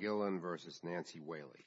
v. Nancy Whaley.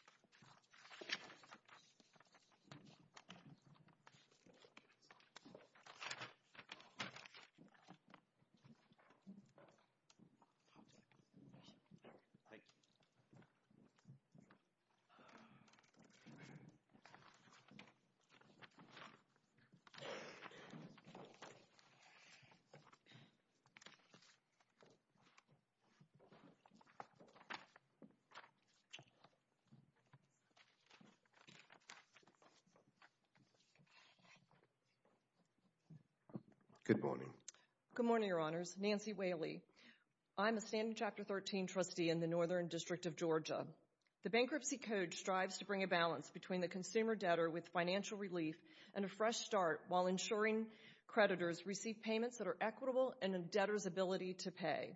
Good morning, your honors. Nancy Whaley. I'm a Standing Chapter 13 trustee in the Northern District of Georgia. The Bankruptcy Code strives to bring a balance between the consumer debtor with financial relief and a fresh start while ensuring creditors receive payments that are equitable and a debtor's ability to pay.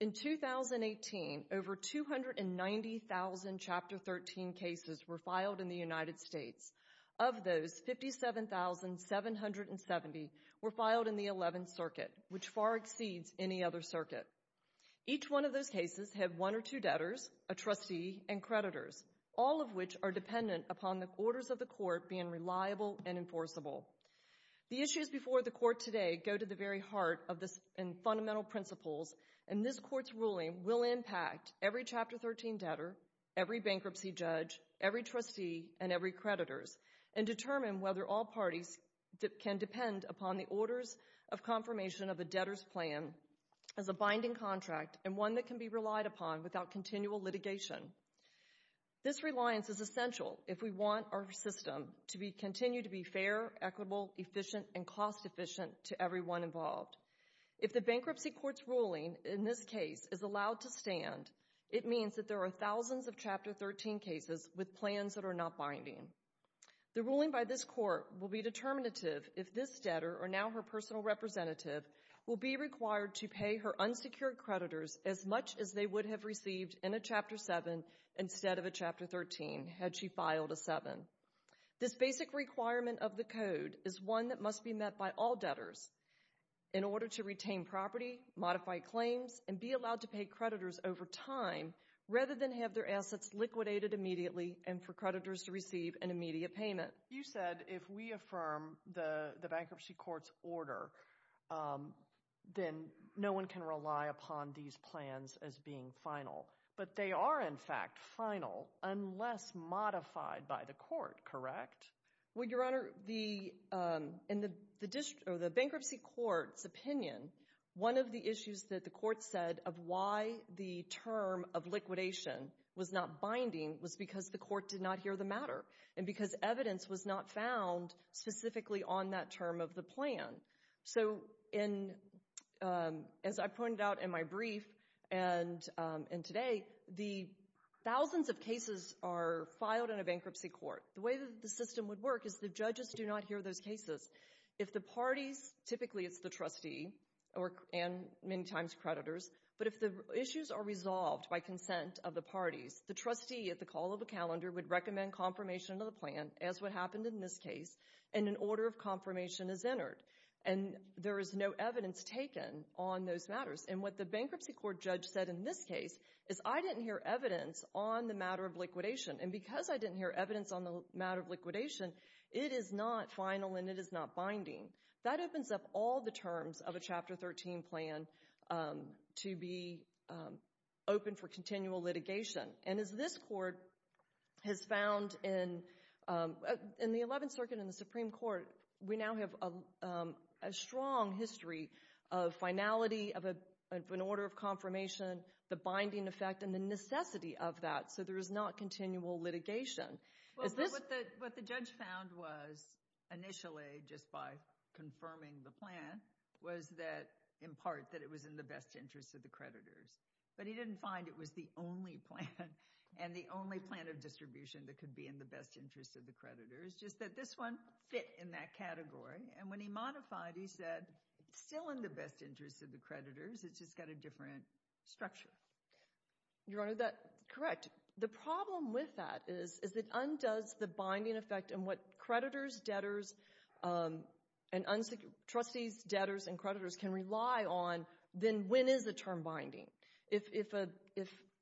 In 2018, over 290,000 Chapter 13 cases were filed in the United States. Of those, 57,770 were filed in the 11th Circuit, which far exceeds any other circuit. Each one of those cases had one or two debtors, a trustee, and creditors, all of which are dependent upon the orders of the court being reliable and enforceable. The issues before the Court today go to the very heart and fundamental principles, and this Court's ruling will impact every Chapter 13 debtor, every bankruptcy judge, every trustee, and every creditors, and determine whether all parties can depend upon the orders of confirmation of a debtor's plan as a binding contract and one that can be relied upon without continual litigation. This reliance is essential if we want our system to continue to be fair, equitable, efficient, and cost-efficient to everyone involved. If the Bankruptcy Court's ruling in this case is allowed to stand, it means that there are thousands of Chapter 13 cases with plans that are not binding. The ruling by this Court will be determinative if this debtor, or now her personal representative, will be required to pay her unsecured creditors as much as they would have received in a Chapter 7 instead of a Chapter 13 had she filed a 7. This basic requirement of the Code is one that must be met by all debtors in order to retain property, modify claims, and be allowed to pay creditors over time rather than have their assets liquidated immediately and for creditors to receive an immediate payment. You said if we affirm the Bankruptcy Court's order, then no one can rely upon these plans as being final. But they are, in fact, final unless modified by the Court, correct? Well, Your Honor, in the Bankruptcy Court's opinion, one of the issues that the Court said of why the term of liquidation was not binding was because the Court did not hear the matter and because evidence was not found specifically on that term of the plan. So, as I pointed out in my brief and today, the thousands of cases are filed in a Bankruptcy Court. The way that the system would work is the judges do not hear those cases. If the parties, typically it's the trustee and many times creditors, but if the issues are resolved by consent of the parties, the trustee at the call of a calendar would recommend confirmation of the plan as what happened in this case and an order of confirmation is entered and there is no evidence taken on those matters. And what the Bankruptcy Court judge said in this case is I didn't hear evidence on the matter of liquidation and because I didn't hear evidence on the matter of liquidation, it is not final and it is not binding. That opens up all the terms of a Chapter 13 plan to be open for continual litigation. And as this Court has found in the 11th Circuit and the Supreme Court, we now have a strong history of finality of an order of confirmation, the binding effect, and the necessity of that, so there is not continual litigation. What the judge found was initially, just by confirming the plan, was that in part that it was in the best interest of the creditors. But he didn't find it was the only plan and the only plan of distribution that could be in the best interest of the creditors, just that this one fit in that category. And when he modified, he said, still in the best interest of the creditors, it's just got a different structure. Your Honor, that's correct. The problem with that is, is it undoes the binding effect and what creditors, debtors, and unsecured trustees, debtors, and creditors can rely on, then when is the term binding? If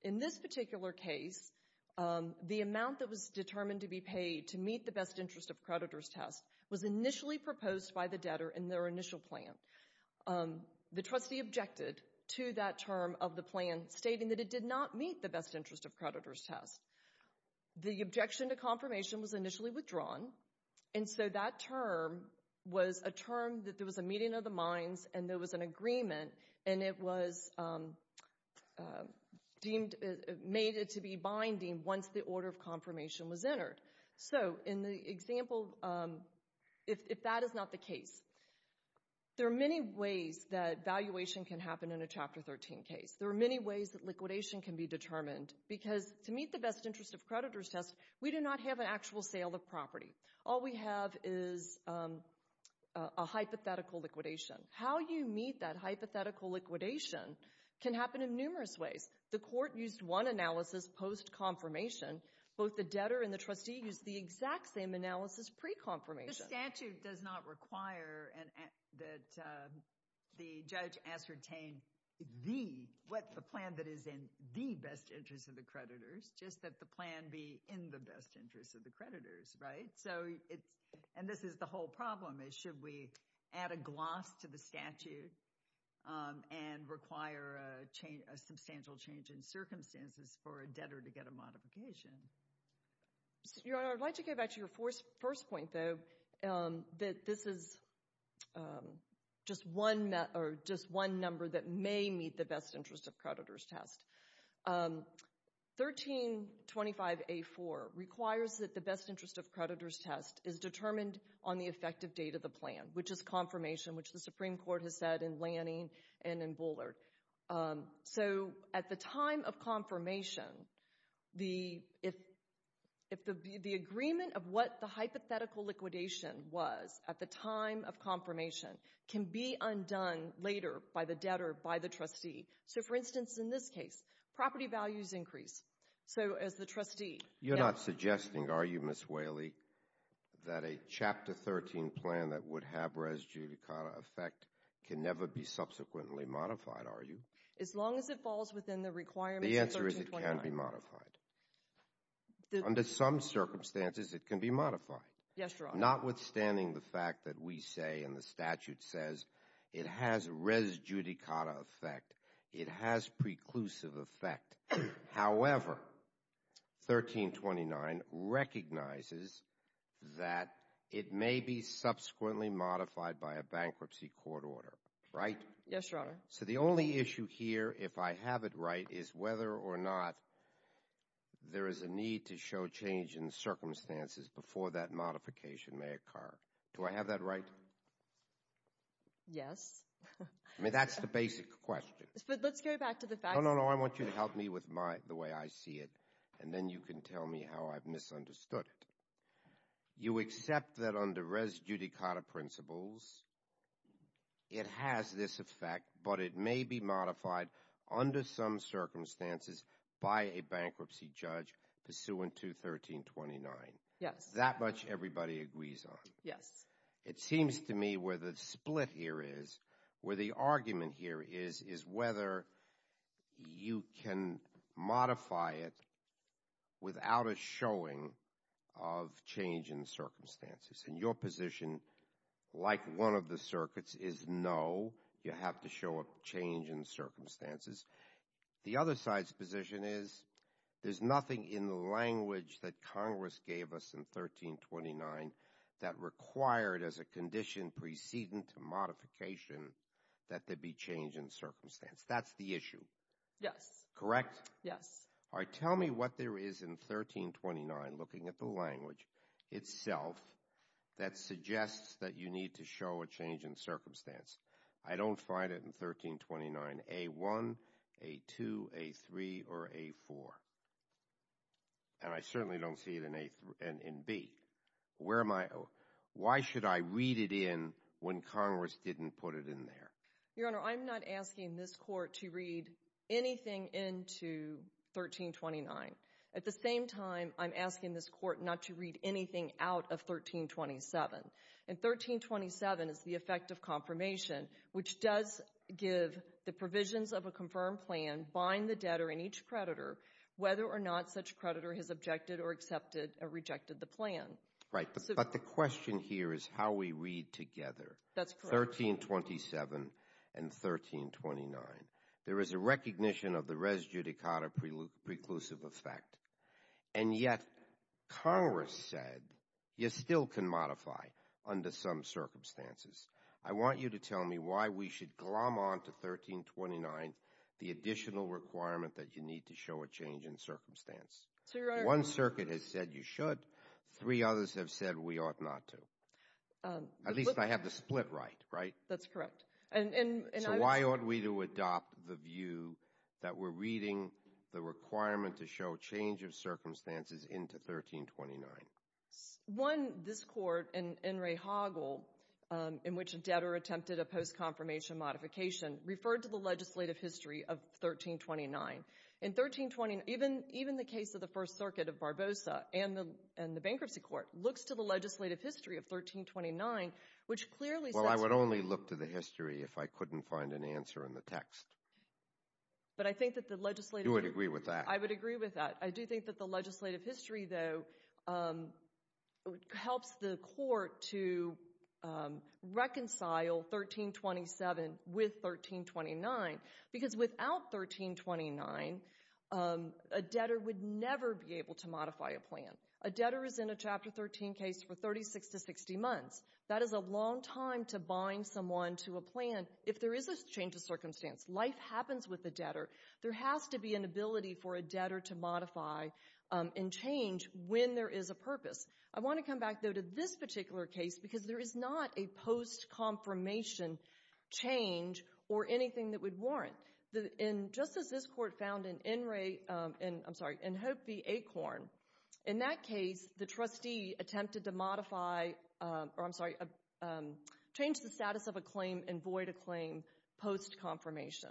in this particular case, the amount that was determined to be paid to meet the best interest of creditors test was initially proposed by the debtor in their initial plan, the trustee objected to that term of the plan, stating that it did not meet the best interest of creditors test. The objection to confirmation was initially withdrawn, and so that term was a term that there was a meeting of the minds, and there was an agreement, and it was deemed, made it to be binding once the order of confirmation was entered. So in the example, if that is not the case, there are many ways that valuation can happen in a Chapter 13 case. There are many ways that liquidation can be determined, because to meet the best interest of creditors test, we do not have an actual sale of property. All we have is a hypothetical liquidation. How you meet that hypothetical liquidation can happen in numerous ways. The court used one analysis post-confirmation, both the debtor and the trustee used the exact same analysis pre-confirmation. The statute does not require that the judge ascertain the, what the plan that is in the best interest of the creditors, just that the plan be in the best interest of the creditors, right? So it's, and this is the whole problem, is should we add a gloss to the statute, and require a change, a substantial change in circumstances for a debtor to get a modification? Your Honor, I'd like to get back to your first point, though, that this is just one, or just one number that may meet the best interest of creditors test. 1325A4 requires that the best interest of creditors test is determined on the effective date of the plan, which is confirmation, which the Supreme Court has said in Lanning and in Bullard. So at the time of confirmation, the, if the agreement of what the hypothetical liquidation was at the time of confirmation can be undone later by the debtor, by the trustee. So for instance, in this case, property values increase. So as the trustee. You're not suggesting, are you, Ms. Whaley, that a Chapter 13 plan that would have res judicata effect can never be subsequently modified, are you? As long as it falls within the requirements of 1329. The answer is it can be modified. Yes, Your Honor. Notwithstanding the fact that we say, and the statute says, it has res judicata effect. It has preclusive effect. However, 1329 recognizes that it may be subsequently modified by a bankruptcy court order, right? Yes, Your Honor. So the only issue here, if I have it right, is whether or not there is a need to show change in circumstances before that modification may occur. Do I have that right? Yes. I mean, that's the basic question. Let's go back to the facts. No, no, no. I want you to help me with my, the way I see it, and then you can tell me how I've misunderstood it. You accept that under res judicata principles, it has this effect, but it may be modified under some circumstances by a bankruptcy judge pursuant to 1329. Yes. That much everybody agrees on. Yes. It seems to me where the split here is, where the argument here is, is whether you can modify it without a showing of change in circumstances. And your position, like one of the circuits, is no, you have to show a change in circumstances. The other side's position is there's nothing in the language that Congress gave us in 1329 that required as a condition preceding to modification that there be change in circumstance. That's the issue. Yes. Correct? Yes. All right. Tell me what there is in 1329, looking at the language itself, that suggests that you need to show a change in circumstance. I don't find it in 1329 A1, A2, A3, or A4. And I certainly don't see it in A, in B. Where am I, why should I read it in when Congress didn't put it in there? Your Honor, I'm not asking this Court to read anything into 1329. At the same time, I'm asking this Court not to read anything out of 1327. And 1327 is the effect of confirmation, which does give the provisions of a confirmed plan, bind the debtor and each creditor, whether or not such creditor has objected or accepted or rejected the plan. Right. But the question here is how we read together. That's correct. 1327 and 1329. There is a recognition of the res judicata preclusive effect. And yet, Congress said, you still can modify under some circumstances. I want you to tell me why we should glom on to 1329, the additional requirement that you need to show a change in circumstance. One circuit has said you should, three others have said we ought not to. At least I have the split right, right? That's correct. So why ought we to adopt the view that we're reading the requirement to show change of circumstances into 1329? One, this Court and Ray Hoggle, in which a debtor attempted a post-confirmation modification, referred to the legislative history of 1329. In 1329, even the case of the First Circuit of Barbosa and the bankruptcy court looks to the legislative history of 1329, which clearly says— I would only look to the history if I couldn't find an answer in the text. But I think that the legislative— You would agree with that. I would agree with that. I do think that the legislative history, though, helps the Court to reconcile 1327 with 1329 because without 1329, a debtor would never be able to modify a plan. A debtor is in a Chapter 13 case for 36 to 60 months. That is a long time to bind someone to a plan if there is a change of circumstance. Life happens with a debtor. There has to be an ability for a debtor to modify and change when there is a purpose. I want to come back, though, to this particular case because there is not a post-confirmation change or anything that would warrant. Just as this Court found in Hope v. Acorn, in that case, the trustee attempted to modify, or I'm sorry, change the status of a claim and void a claim post-confirmation.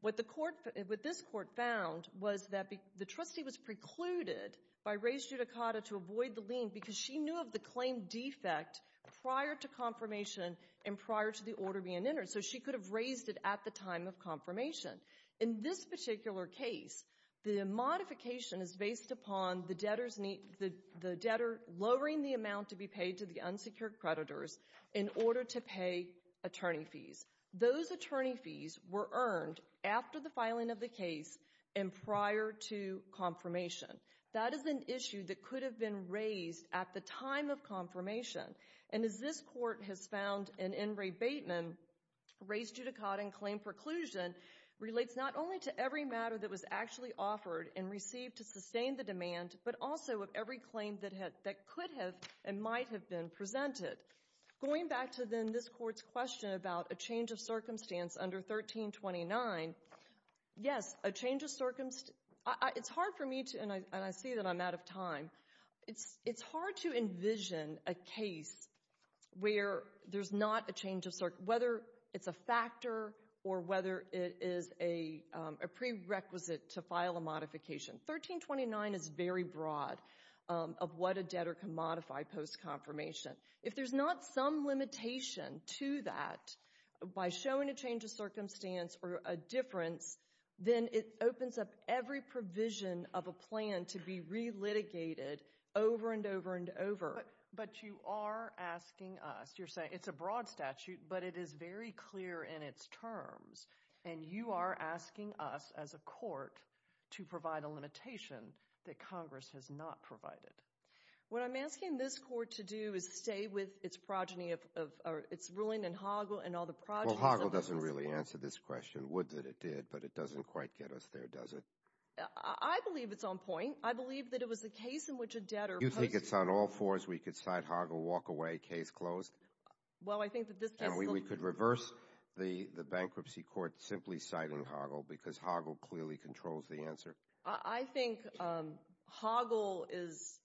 What the Court—what this Court found was that the trustee was precluded by Reyes-Judicata to avoid the lien because she knew of the claim defect prior to confirmation and prior to the order being entered, so she could have raised it at the time of confirmation. In this particular case, the modification is based upon the debtor's—the debtor lowering the amount to be paid to the unsecured creditors in order to pay attorney fees. Those attorney fees were earned after the filing of the case and prior to confirmation. That is an issue that could have been raised at the time of confirmation. And as this Court has found in Enright-Bateman, Reyes-Judicata and claim preclusion relates not only to every matter that was actually offered and received to sustain the demand, but also of every claim that could have and might have been presented. Going back to then this Court's question about a change of circumstance under 1329, yes, a change of—it's hard for me to—and I see that I'm out of time—it's hard to envision a case where there's not a change of—whether it's a factor or whether it is a prerequisite to broad of what a debtor can modify post-confirmation. If there's not some limitation to that by showing a change of circumstance or a difference, then it opens up every provision of a plan to be re-litigated over and over and over. But you are asking us—you're saying it's a broad statute, but it is very clear in its terms, and you are asking us as a Court to provide a limitation that Congress has not provided. What I'm asking this Court to do is stay with its progeny of—or its ruling in Hoggle and all the progenies— Well, Hoggle doesn't really answer this question, would that it did, but it doesn't quite get us there, does it? I believe it's on point. I believe that it was a case in which a debtor— You think it's on all fours? We could cite Hoggle, walk away, case closed? Well, I think that this case— We could reverse the bankruptcy court simply citing Hoggle because Hoggle clearly controls the answer? I think Hoggle is—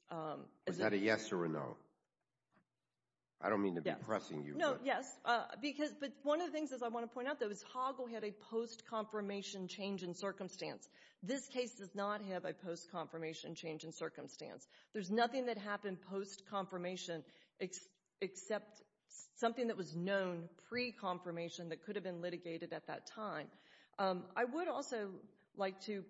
Was that a yes or a no? I don't mean to be pressing you, but— No, yes. But one of the things I want to point out, though, is Hoggle had a post-confirmation change in circumstance. This case does not have a post-confirmation change in circumstance. There's nothing that happened post-confirmation except something that was known pre-confirmation that could have been litigated at that time. I would also like to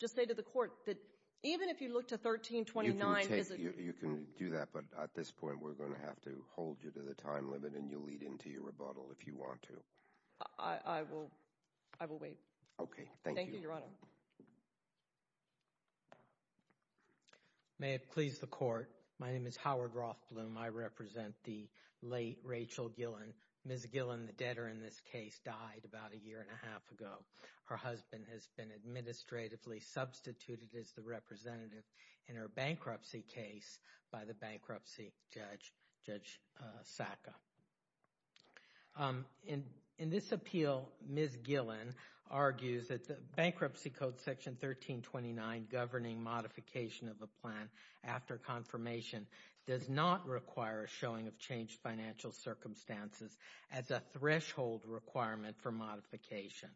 just say to the Court that even if you look to 1329— You can take—you can do that, but at this point we're going to have to hold you to the time limit and you'll lead into your rebuttal if you want to. I will wait. Okay, thank you. Thank you, Your Honor. May it please the Court, my name is Howard Rothblum. I represent the late Rachel Gillen. Ms. Gillen, the debtor in this case, died about a year and a half ago. Her husband has been administratively substituted as the representative in her bankruptcy case by the bankruptcy judge, Judge Sacka. In this appeal, Ms. Gillen argues that the Bankruptcy Code, Section 1329, governing modification of a plan after confirmation, does not require a showing of changed financial circumstances as a threshold requirement for modification.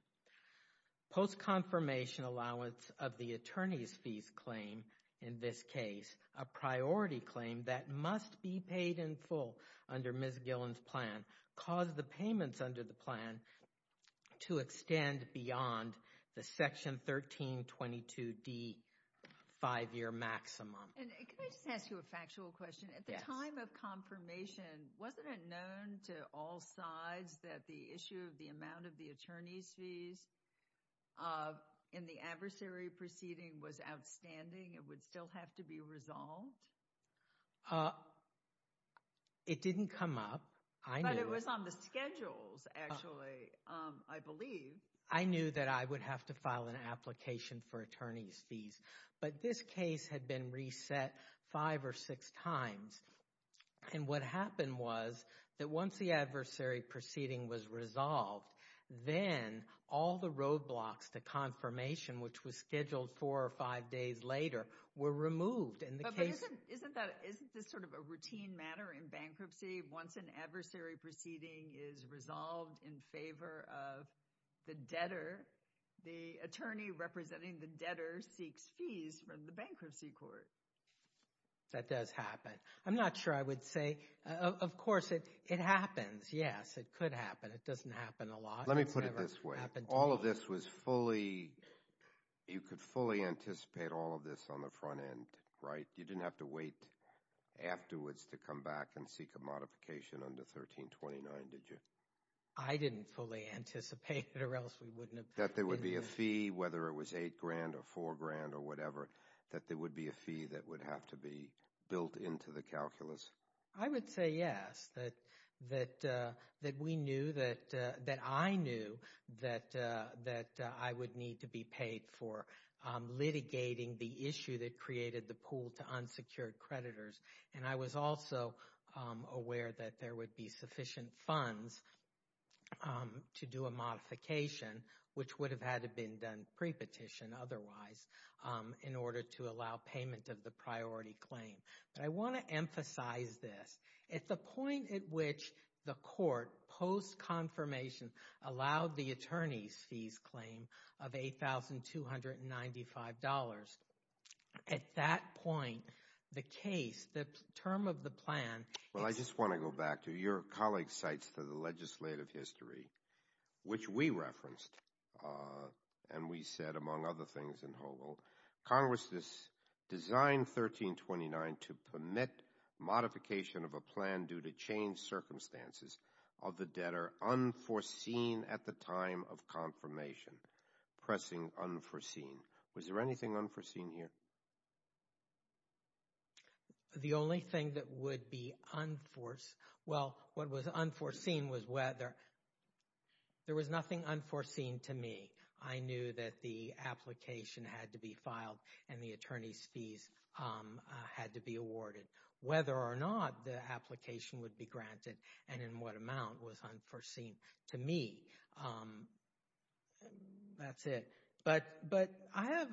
Post-confirmation allowance of the attorney's fees claim, in this case, a priority claim that must be paid in full under Ms. Gillen's plan, caused the payments under the plan to extend beyond the Section 1322d five-year maximum. And can I just ask you a factual question? Yes. At the time of confirmation, wasn't it known to all sides that the issue of the amount of the attorney's fees in the adversary proceeding was outstanding and would still have to be resolved? It didn't come up. I knew it. It was on the schedules, actually, I believe. I knew that I would have to file an application for attorney's fees. But this case had been reset five or six times. And what happened was that once the adversary proceeding was resolved, then all the roadblocks to confirmation, which was scheduled four or five days later, were removed. But isn't this sort of a routine matter in bankruptcy? Once an adversary proceeding is resolved in favor of the debtor, the attorney representing the debtor seeks fees from the bankruptcy court. That does happen. I'm not sure I would say, of course, it happens. Yes, it could happen. It doesn't happen a lot. Let me put it this way. All of this was fully, you could fully anticipate all of this on the front end, right? You didn't have to wait afterwards to come back and seek a modification under 1329, did you? I didn't fully anticipate it or else we wouldn't have. That there would be a fee, whether it was eight grand or four grand or whatever, that there would be a fee that would have to be built into the calculus? I would say yes, that we knew, that I knew that I would need to be paid for unsecured creditors. And I was also aware that there would be sufficient funds to do a modification, which would have had to been done pre-petition otherwise, in order to allow payment of the priority claim. But I want to emphasize this. At the point at which the court, post-confirmation, allowed the attorney's fees claim of $8,295, at that point, the case, the term of the plan... Well, I just want to go back to your colleague's cites to the legislative history, which we referenced. And we said, among other things in Holo, Congress designed 1329 to permit modification of a plan due to changed circumstances of the debtor unforeseen at the time of confirmation. Pressing unforeseen. Was there anything unforeseen here? The only thing that would be unforeseen... Well, what was unforeseen was whether... There was nothing unforeseen to me. I knew that the application had to be filed, and the attorney's fees had to be awarded. Whether or not the application would be granted, and in what amount was unforeseen to me. That's it. But I have...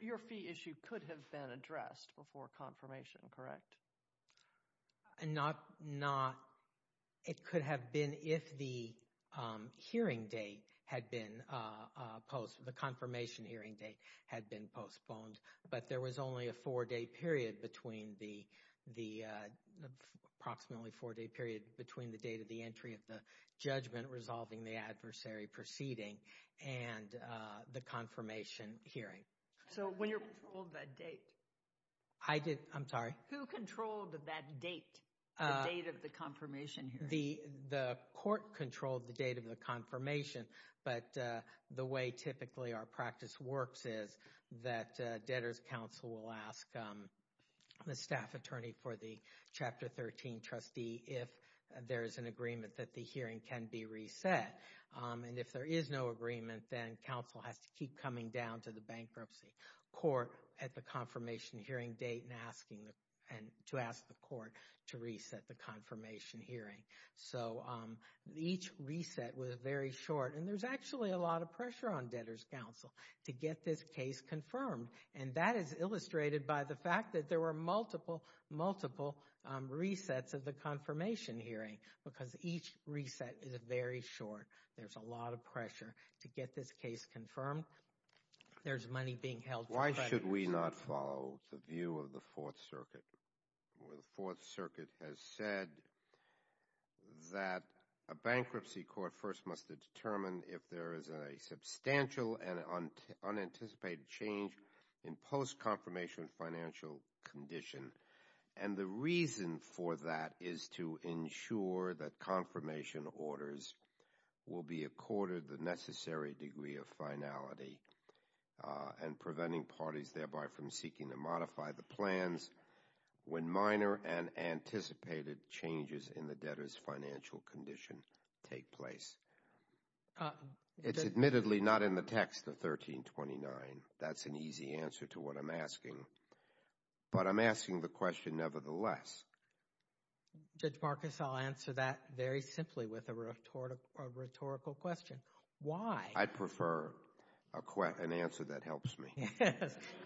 Your fee issue could have been addressed before confirmation, correct? Not... It could have been if the hearing date had been... The confirmation hearing date had been postponed. But there was only a four-day period between the... Approximately four-day period between the date of the entry of the judgment resolving the adversary proceeding. And the confirmation hearing. So when you're... Who controlled that date? I did... I'm sorry? Who controlled that date? The date of the confirmation hearing? The court controlled the date of the confirmation. But the way typically our practice works is that debtor's counsel will ask the staff attorney for the Chapter 13 trustee if there is an agreement that the hearing can be reset. And if there is no agreement, then counsel has to keep coming down to the bankruptcy court at the confirmation hearing date and asking the... And to ask the court to reset the confirmation hearing. So each reset was very short. And there's actually a lot of pressure on debtor's counsel to get this case confirmed. And that is illustrated by the fact that there were multiple, multiple resets of the confirmation hearing. Because each reset is very short. There's a lot of pressure to get this case confirmed. There's money being held... Why should we not follow the view of the Fourth Circuit? The Fourth Circuit has said that a bankruptcy court first must determine if there is a substantial and unanticipated change in post-confirmation financial condition. And the reason for that is to ensure that confirmation orders will be accorded the necessary degree of finality and preventing parties thereby from seeking to modify the plans when minor and anticipated changes in the debtor's financial condition take place. It's admittedly not in the text of 1329. That's an easy answer to what I'm asking. But I'm asking the question nevertheless. Judge Marcus, I'll answer that very simply with a rhetorical question. Why? I prefer an answer that helps me.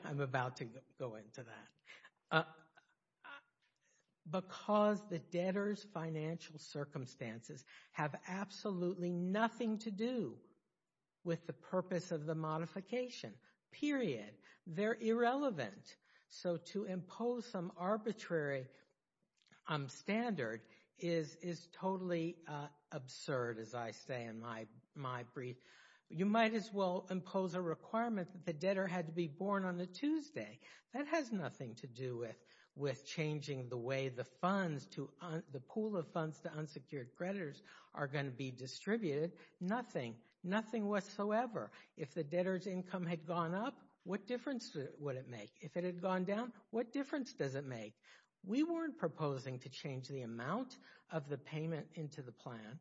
I'm about to go into that. Because the debtor's financial circumstances have absolutely nothing to do with the purpose of the modification. Period. They're irrelevant. So to impose some arbitrary standard is totally absurd, as I say in my brief. You might as well impose a requirement that the debtor had to be born on a Tuesday. That has nothing to do with changing the way the pool of funds to unsecured creditors are going to be distributed. Nothing. Nothing whatsoever. If the debtor's income had gone up, what difference would it make? If it had gone down, what difference does it make? We weren't proposing to change the amount of the payment into the plan.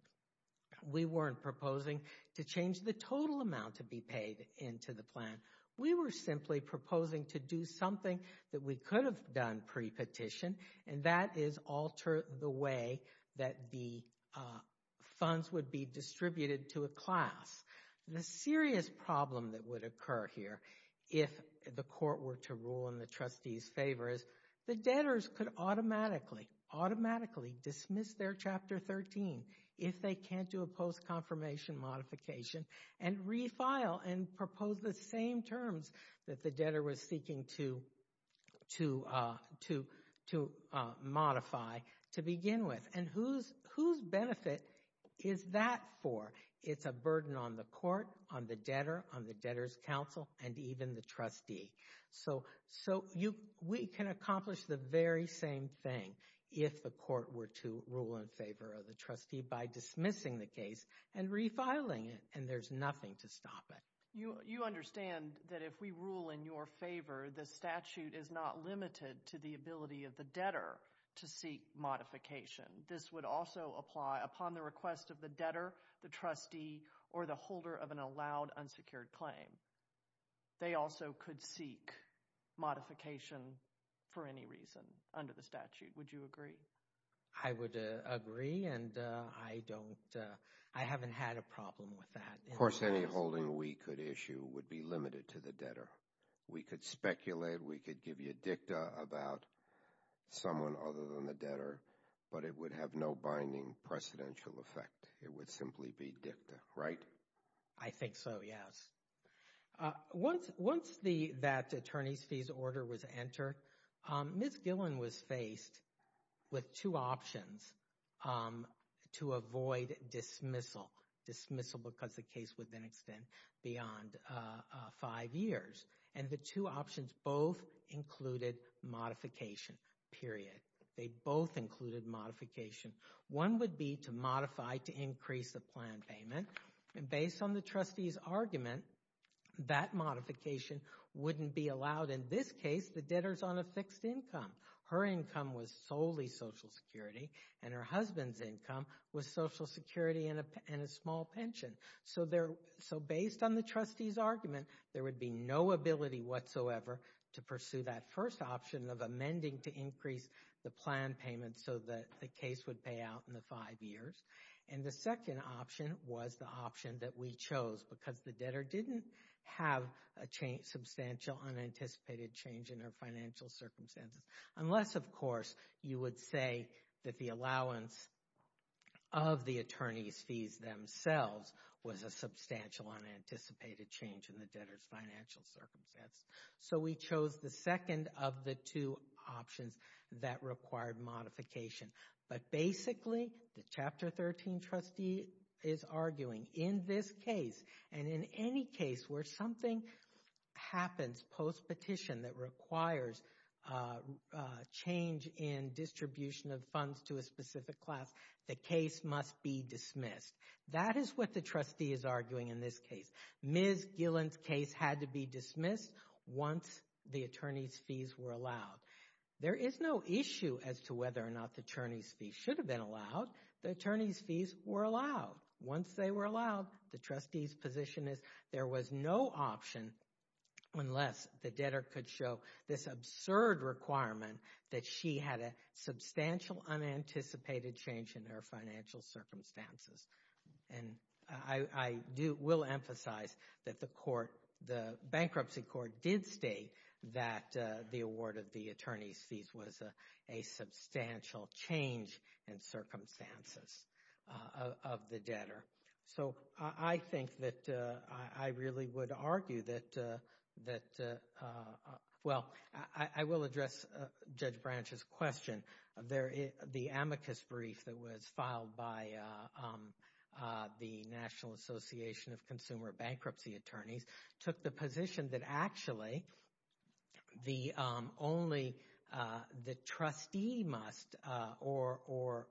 We weren't proposing to change the total amount to be paid into the plan. We were simply proposing to do something that we could have done pre-petition and that is alter the way that the funds would be distributed to a class. The serious problem that would occur here, if the court were to rule in the trustee's favor, is the debtors could automatically, automatically dismiss their Chapter 13 if they can't do a post-confirmation modification and refile and propose the same terms that the debtor was seeking to modify to begin with. And whose benefit is that for? It's a burden on the court, on the debtor, on the debtor's counsel, and even the trustee. So we can accomplish the very same thing if the court were to rule in favor of the trustee by dismissing the case and refiling it. And there's nothing to stop it. You understand that if we rule in your favor, the statute is not limited to the ability of the debtor to seek modification. This would also apply upon the request of the debtor, the trustee, or the holder of an allowed unsecured claim. They also could seek modification for any reason under the statute. Would you agree? I would agree and I don't, I haven't had a problem with that. Of course, any holding we could issue would be limited to the debtor. We could speculate, we could give you a dicta about someone other than the debtor, but it would have no binding precedential effect. It would simply be dicta, right? I think so, yes. Once that attorney's fees order was entered, Ms. Gillen was faced with two options to avoid dismissal. Dismissal because the case would then extend beyond five years. And the two options both included modification, period. They both included modification. One would be to modify to increase the plan payment. And based on the trustee's argument, that modification wouldn't be allowed. In this case, the debtor's on a fixed income. Her income was solely Social Security and her husband's income was Social Security and a small pension. So based on the trustee's argument, there would be no ability whatsoever to pursue that first option of amending to increase the plan payment so that the case would pay out in the five years. And the second option was the option that we chose because the debtor didn't have a substantial, unanticipated change in her financial circumstances. Unless, of course, you would say that the allowance of the attorney's fees themselves was a substantial, unanticipated change in the debtor's financial circumstance. So we chose the second of the two options that required modification. But basically, the Chapter 13 trustee is arguing in this case and in any case where something happens post-petition that requires change in distribution of funds to a specific class, the case must be dismissed. That is what the trustee is arguing in this case. Ms. Gillen's case had to be dismissed once the attorney's fees were allowed. There is no issue as to whether or not the attorney's fees should have been allowed. The attorney's fees were allowed. Once they were allowed, the trustee's position is there was no option unless the debtor could show this absurd requirement that she had a substantial, unanticipated change in her financial circumstances. And I will emphasize that the bankruptcy court did state that the award of the attorney's fees was a substantial change in circumstances of the debtor. So I think that I really would argue that... Well, I will address Judge Branch's question. The amicus brief that was filed by the National Association of Consumer Bankruptcy Attorneys took the position that actually the trustee must or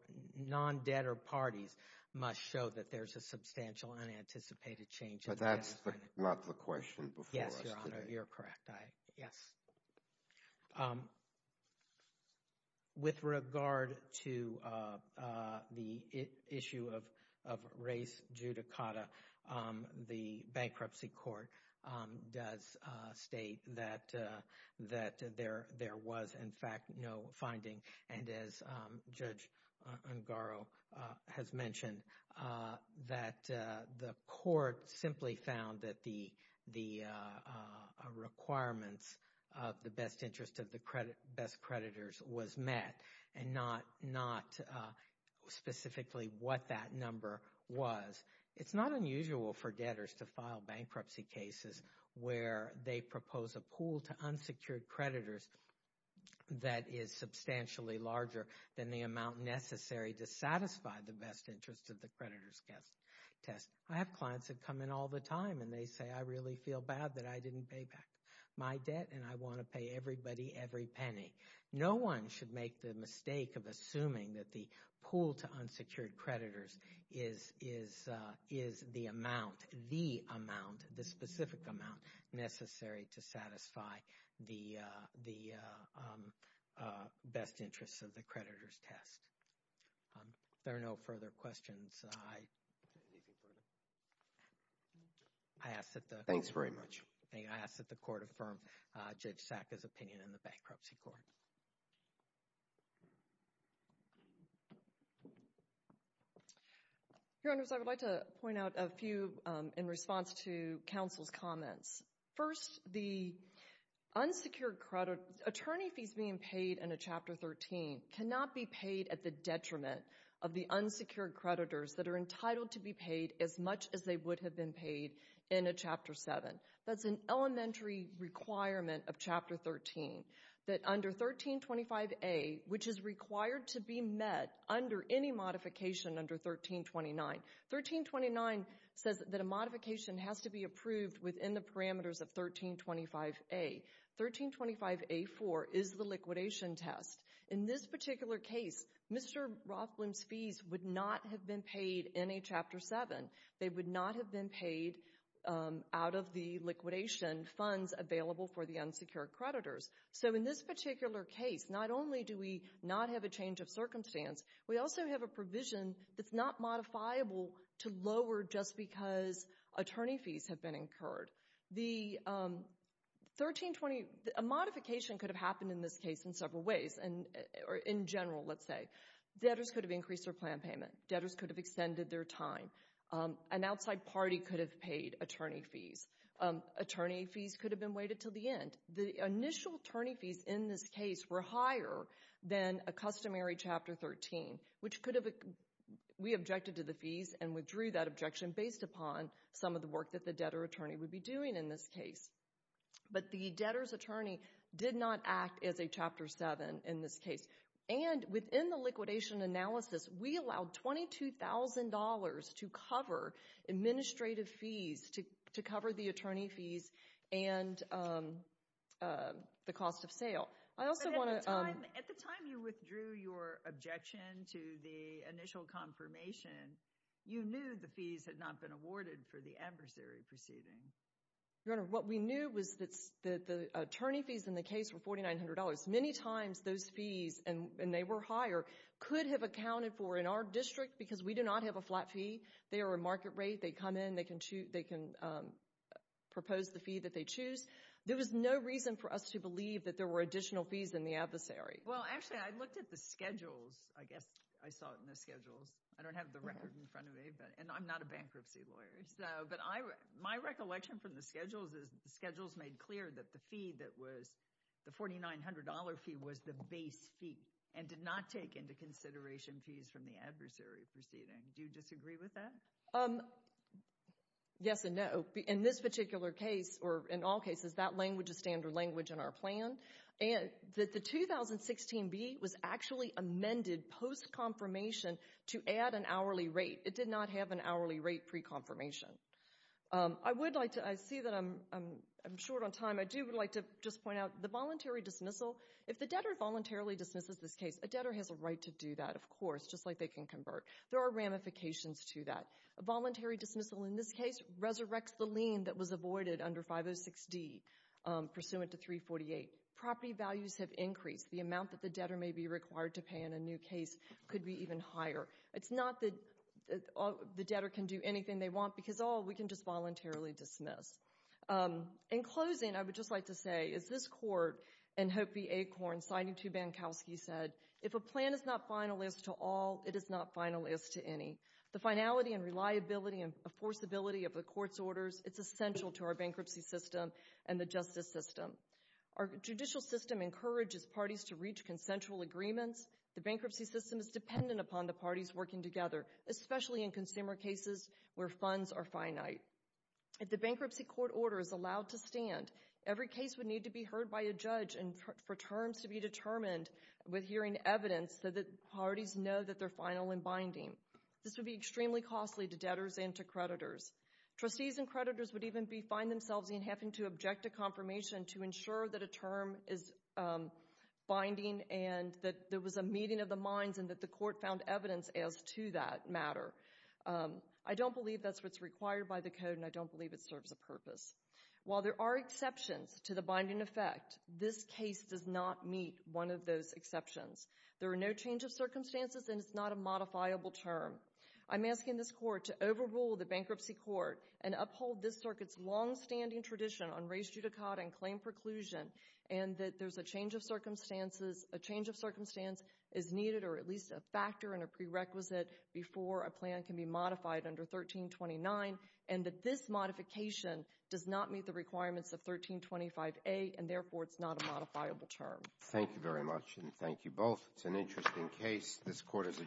non-debtor parties must show that there's a substantial unanticipated change. But that's not the question before us today. Yes, Your Honor, you're correct. Yes. With regard to the issue of race judicata, the bankruptcy court does state that there was, in fact, no finding. And as Judge Ungaro has mentioned, that the court simply found that the requirements of the best interest of the best creditors was met and not specifically what that number was. It's not unusual for debtors to file bankruptcy cases where they propose a pool to unsecured creditors that is substantially larger than the amount necessary to satisfy the best interest of the creditor's test. I have clients that come in all the time and they say, I really feel bad that I didn't pay back my debt and I want to pay everybody every penny. No one should make the mistake of assuming that the pool to unsecured creditors is the amount, the amount, the specific amount necessary to satisfy the best interest of the creditor's test. There are no further questions. I ask that the court affirm Judge Sacka's opinion in the bankruptcy court. Your Honors, I would like to point out a few in response to counsel's comments. First, the unsecured credit, attorney fees being paid in a Chapter 13 cannot be paid at the detriment of the unsecured creditors that are entitled to be paid as much as they would have been paid in a Chapter 7. That's an elementary requirement of Chapter 13 that under 1325A, which is required to be met under any modification under 1329. 1329 says that a modification has to be approved within the parameters of 1325A. 1325A4 is the liquidation test. In this particular case, Mr. Rothblum's fees would not have been paid in a Chapter 7. They would not have been paid out of the liquidation funds available for the unsecured creditors. So in this particular case, not only do we not have a change of circumstance, we also have a provision that's not modifiable to lower just because attorney fees have been incurred. The 1320, a modification could have happened in this case in several ways. Or in general, let's say. Debtors could have increased their plan payment. Debtors could have extended their time. An outside party could have paid attorney fees. Attorney fees could have been waited till the end. The initial attorney fees in this case were higher than a customary Chapter 13, which we objected to the fees and withdrew that objection based upon some of the work that the debtor attorney would be doing in this case. But the debtor's attorney did not act as a Chapter 7 in this case. And within the liquidation analysis, we allowed $22,000 to cover administrative fees to cover the attorney fees and the cost of sale. I also want to- But at the time you withdrew your objection to the initial confirmation, you knew the fees had not been awarded for the adversary proceeding. Your Honor, what we knew was that the attorney fees in the case were $4,900. Many times those fees, and they were higher, could have accounted for in our district because we do not have a flat fee. They are a market rate. They come in, they can propose the fee that they choose. There was no reason for us to believe that there were additional fees in the adversary. Well, actually, I looked at the schedules. I guess I saw it in the schedules. I don't have the record in front of me, and I'm not a bankruptcy lawyer. My recollection from the schedules is the schedules made clear that the fee the $4,900 fee was the base fee and did not take into consideration fees from the adversary proceeding. Do you disagree with that? Yes and no. In this particular case, or in all cases, that language is standard language in our plan. The 2016B was actually amended post-confirmation to add an hourly rate. It did not have an hourly rate pre-confirmation. I would like to- I see that I'm short on time. I do would like to just point out the voluntary dismissal, if the debtor voluntarily dismisses this case, a debtor has a right to do that, of course, just like they can convert. There are ramifications to that. A voluntary dismissal in this case resurrects the lien that was avoided under 506D pursuant to 348. Property values have increased. The amount that the debtor may be required to pay in a new case could be even higher. It's not that the debtor can do anything they want because, oh, we can just voluntarily dismiss. In closing, I would just like to say, as this court and Hope v. Acorn, citing 2 Bankowski, said, if a plan is not finalist to all, it is not finalist to any. The finality and reliability and enforceability of the court's orders, it's essential to our bankruptcy system and the justice system. Our judicial system encourages parties to reach consensual agreements. The bankruptcy system is dependent upon the parties working together, especially in consumer cases where funds are finite. If the bankruptcy court order is allowed to stand, every case would need to be heard by a judge and for terms to be determined with hearing evidence so that parties know that they're final and binding. This would be extremely costly to debtors and to creditors. Trustees and creditors would even find themselves in having to object to confirmation to ensure that a term is binding and that there was a meeting of the minds and that the court found evidence as to that matter. I don't believe that's what's required by the code and I don't believe it serves a purpose. While there are exceptions to the binding effect, this case does not meet one of those exceptions. There are no change of circumstances and it's not a modifiable term. I'm asking this court to overrule the bankruptcy court and uphold this circuit's longstanding tradition on res judicata and claim preclusion and that there's a change of circumstances, a change of circumstance is needed or at least a factor and a prerequisite before a plan can be modified under 1329 and that this modification does not meet the requirements of 1325A and therefore it's not a modifiable term. Thank you very much and thank you both. It's an interesting case. This court is adjourned.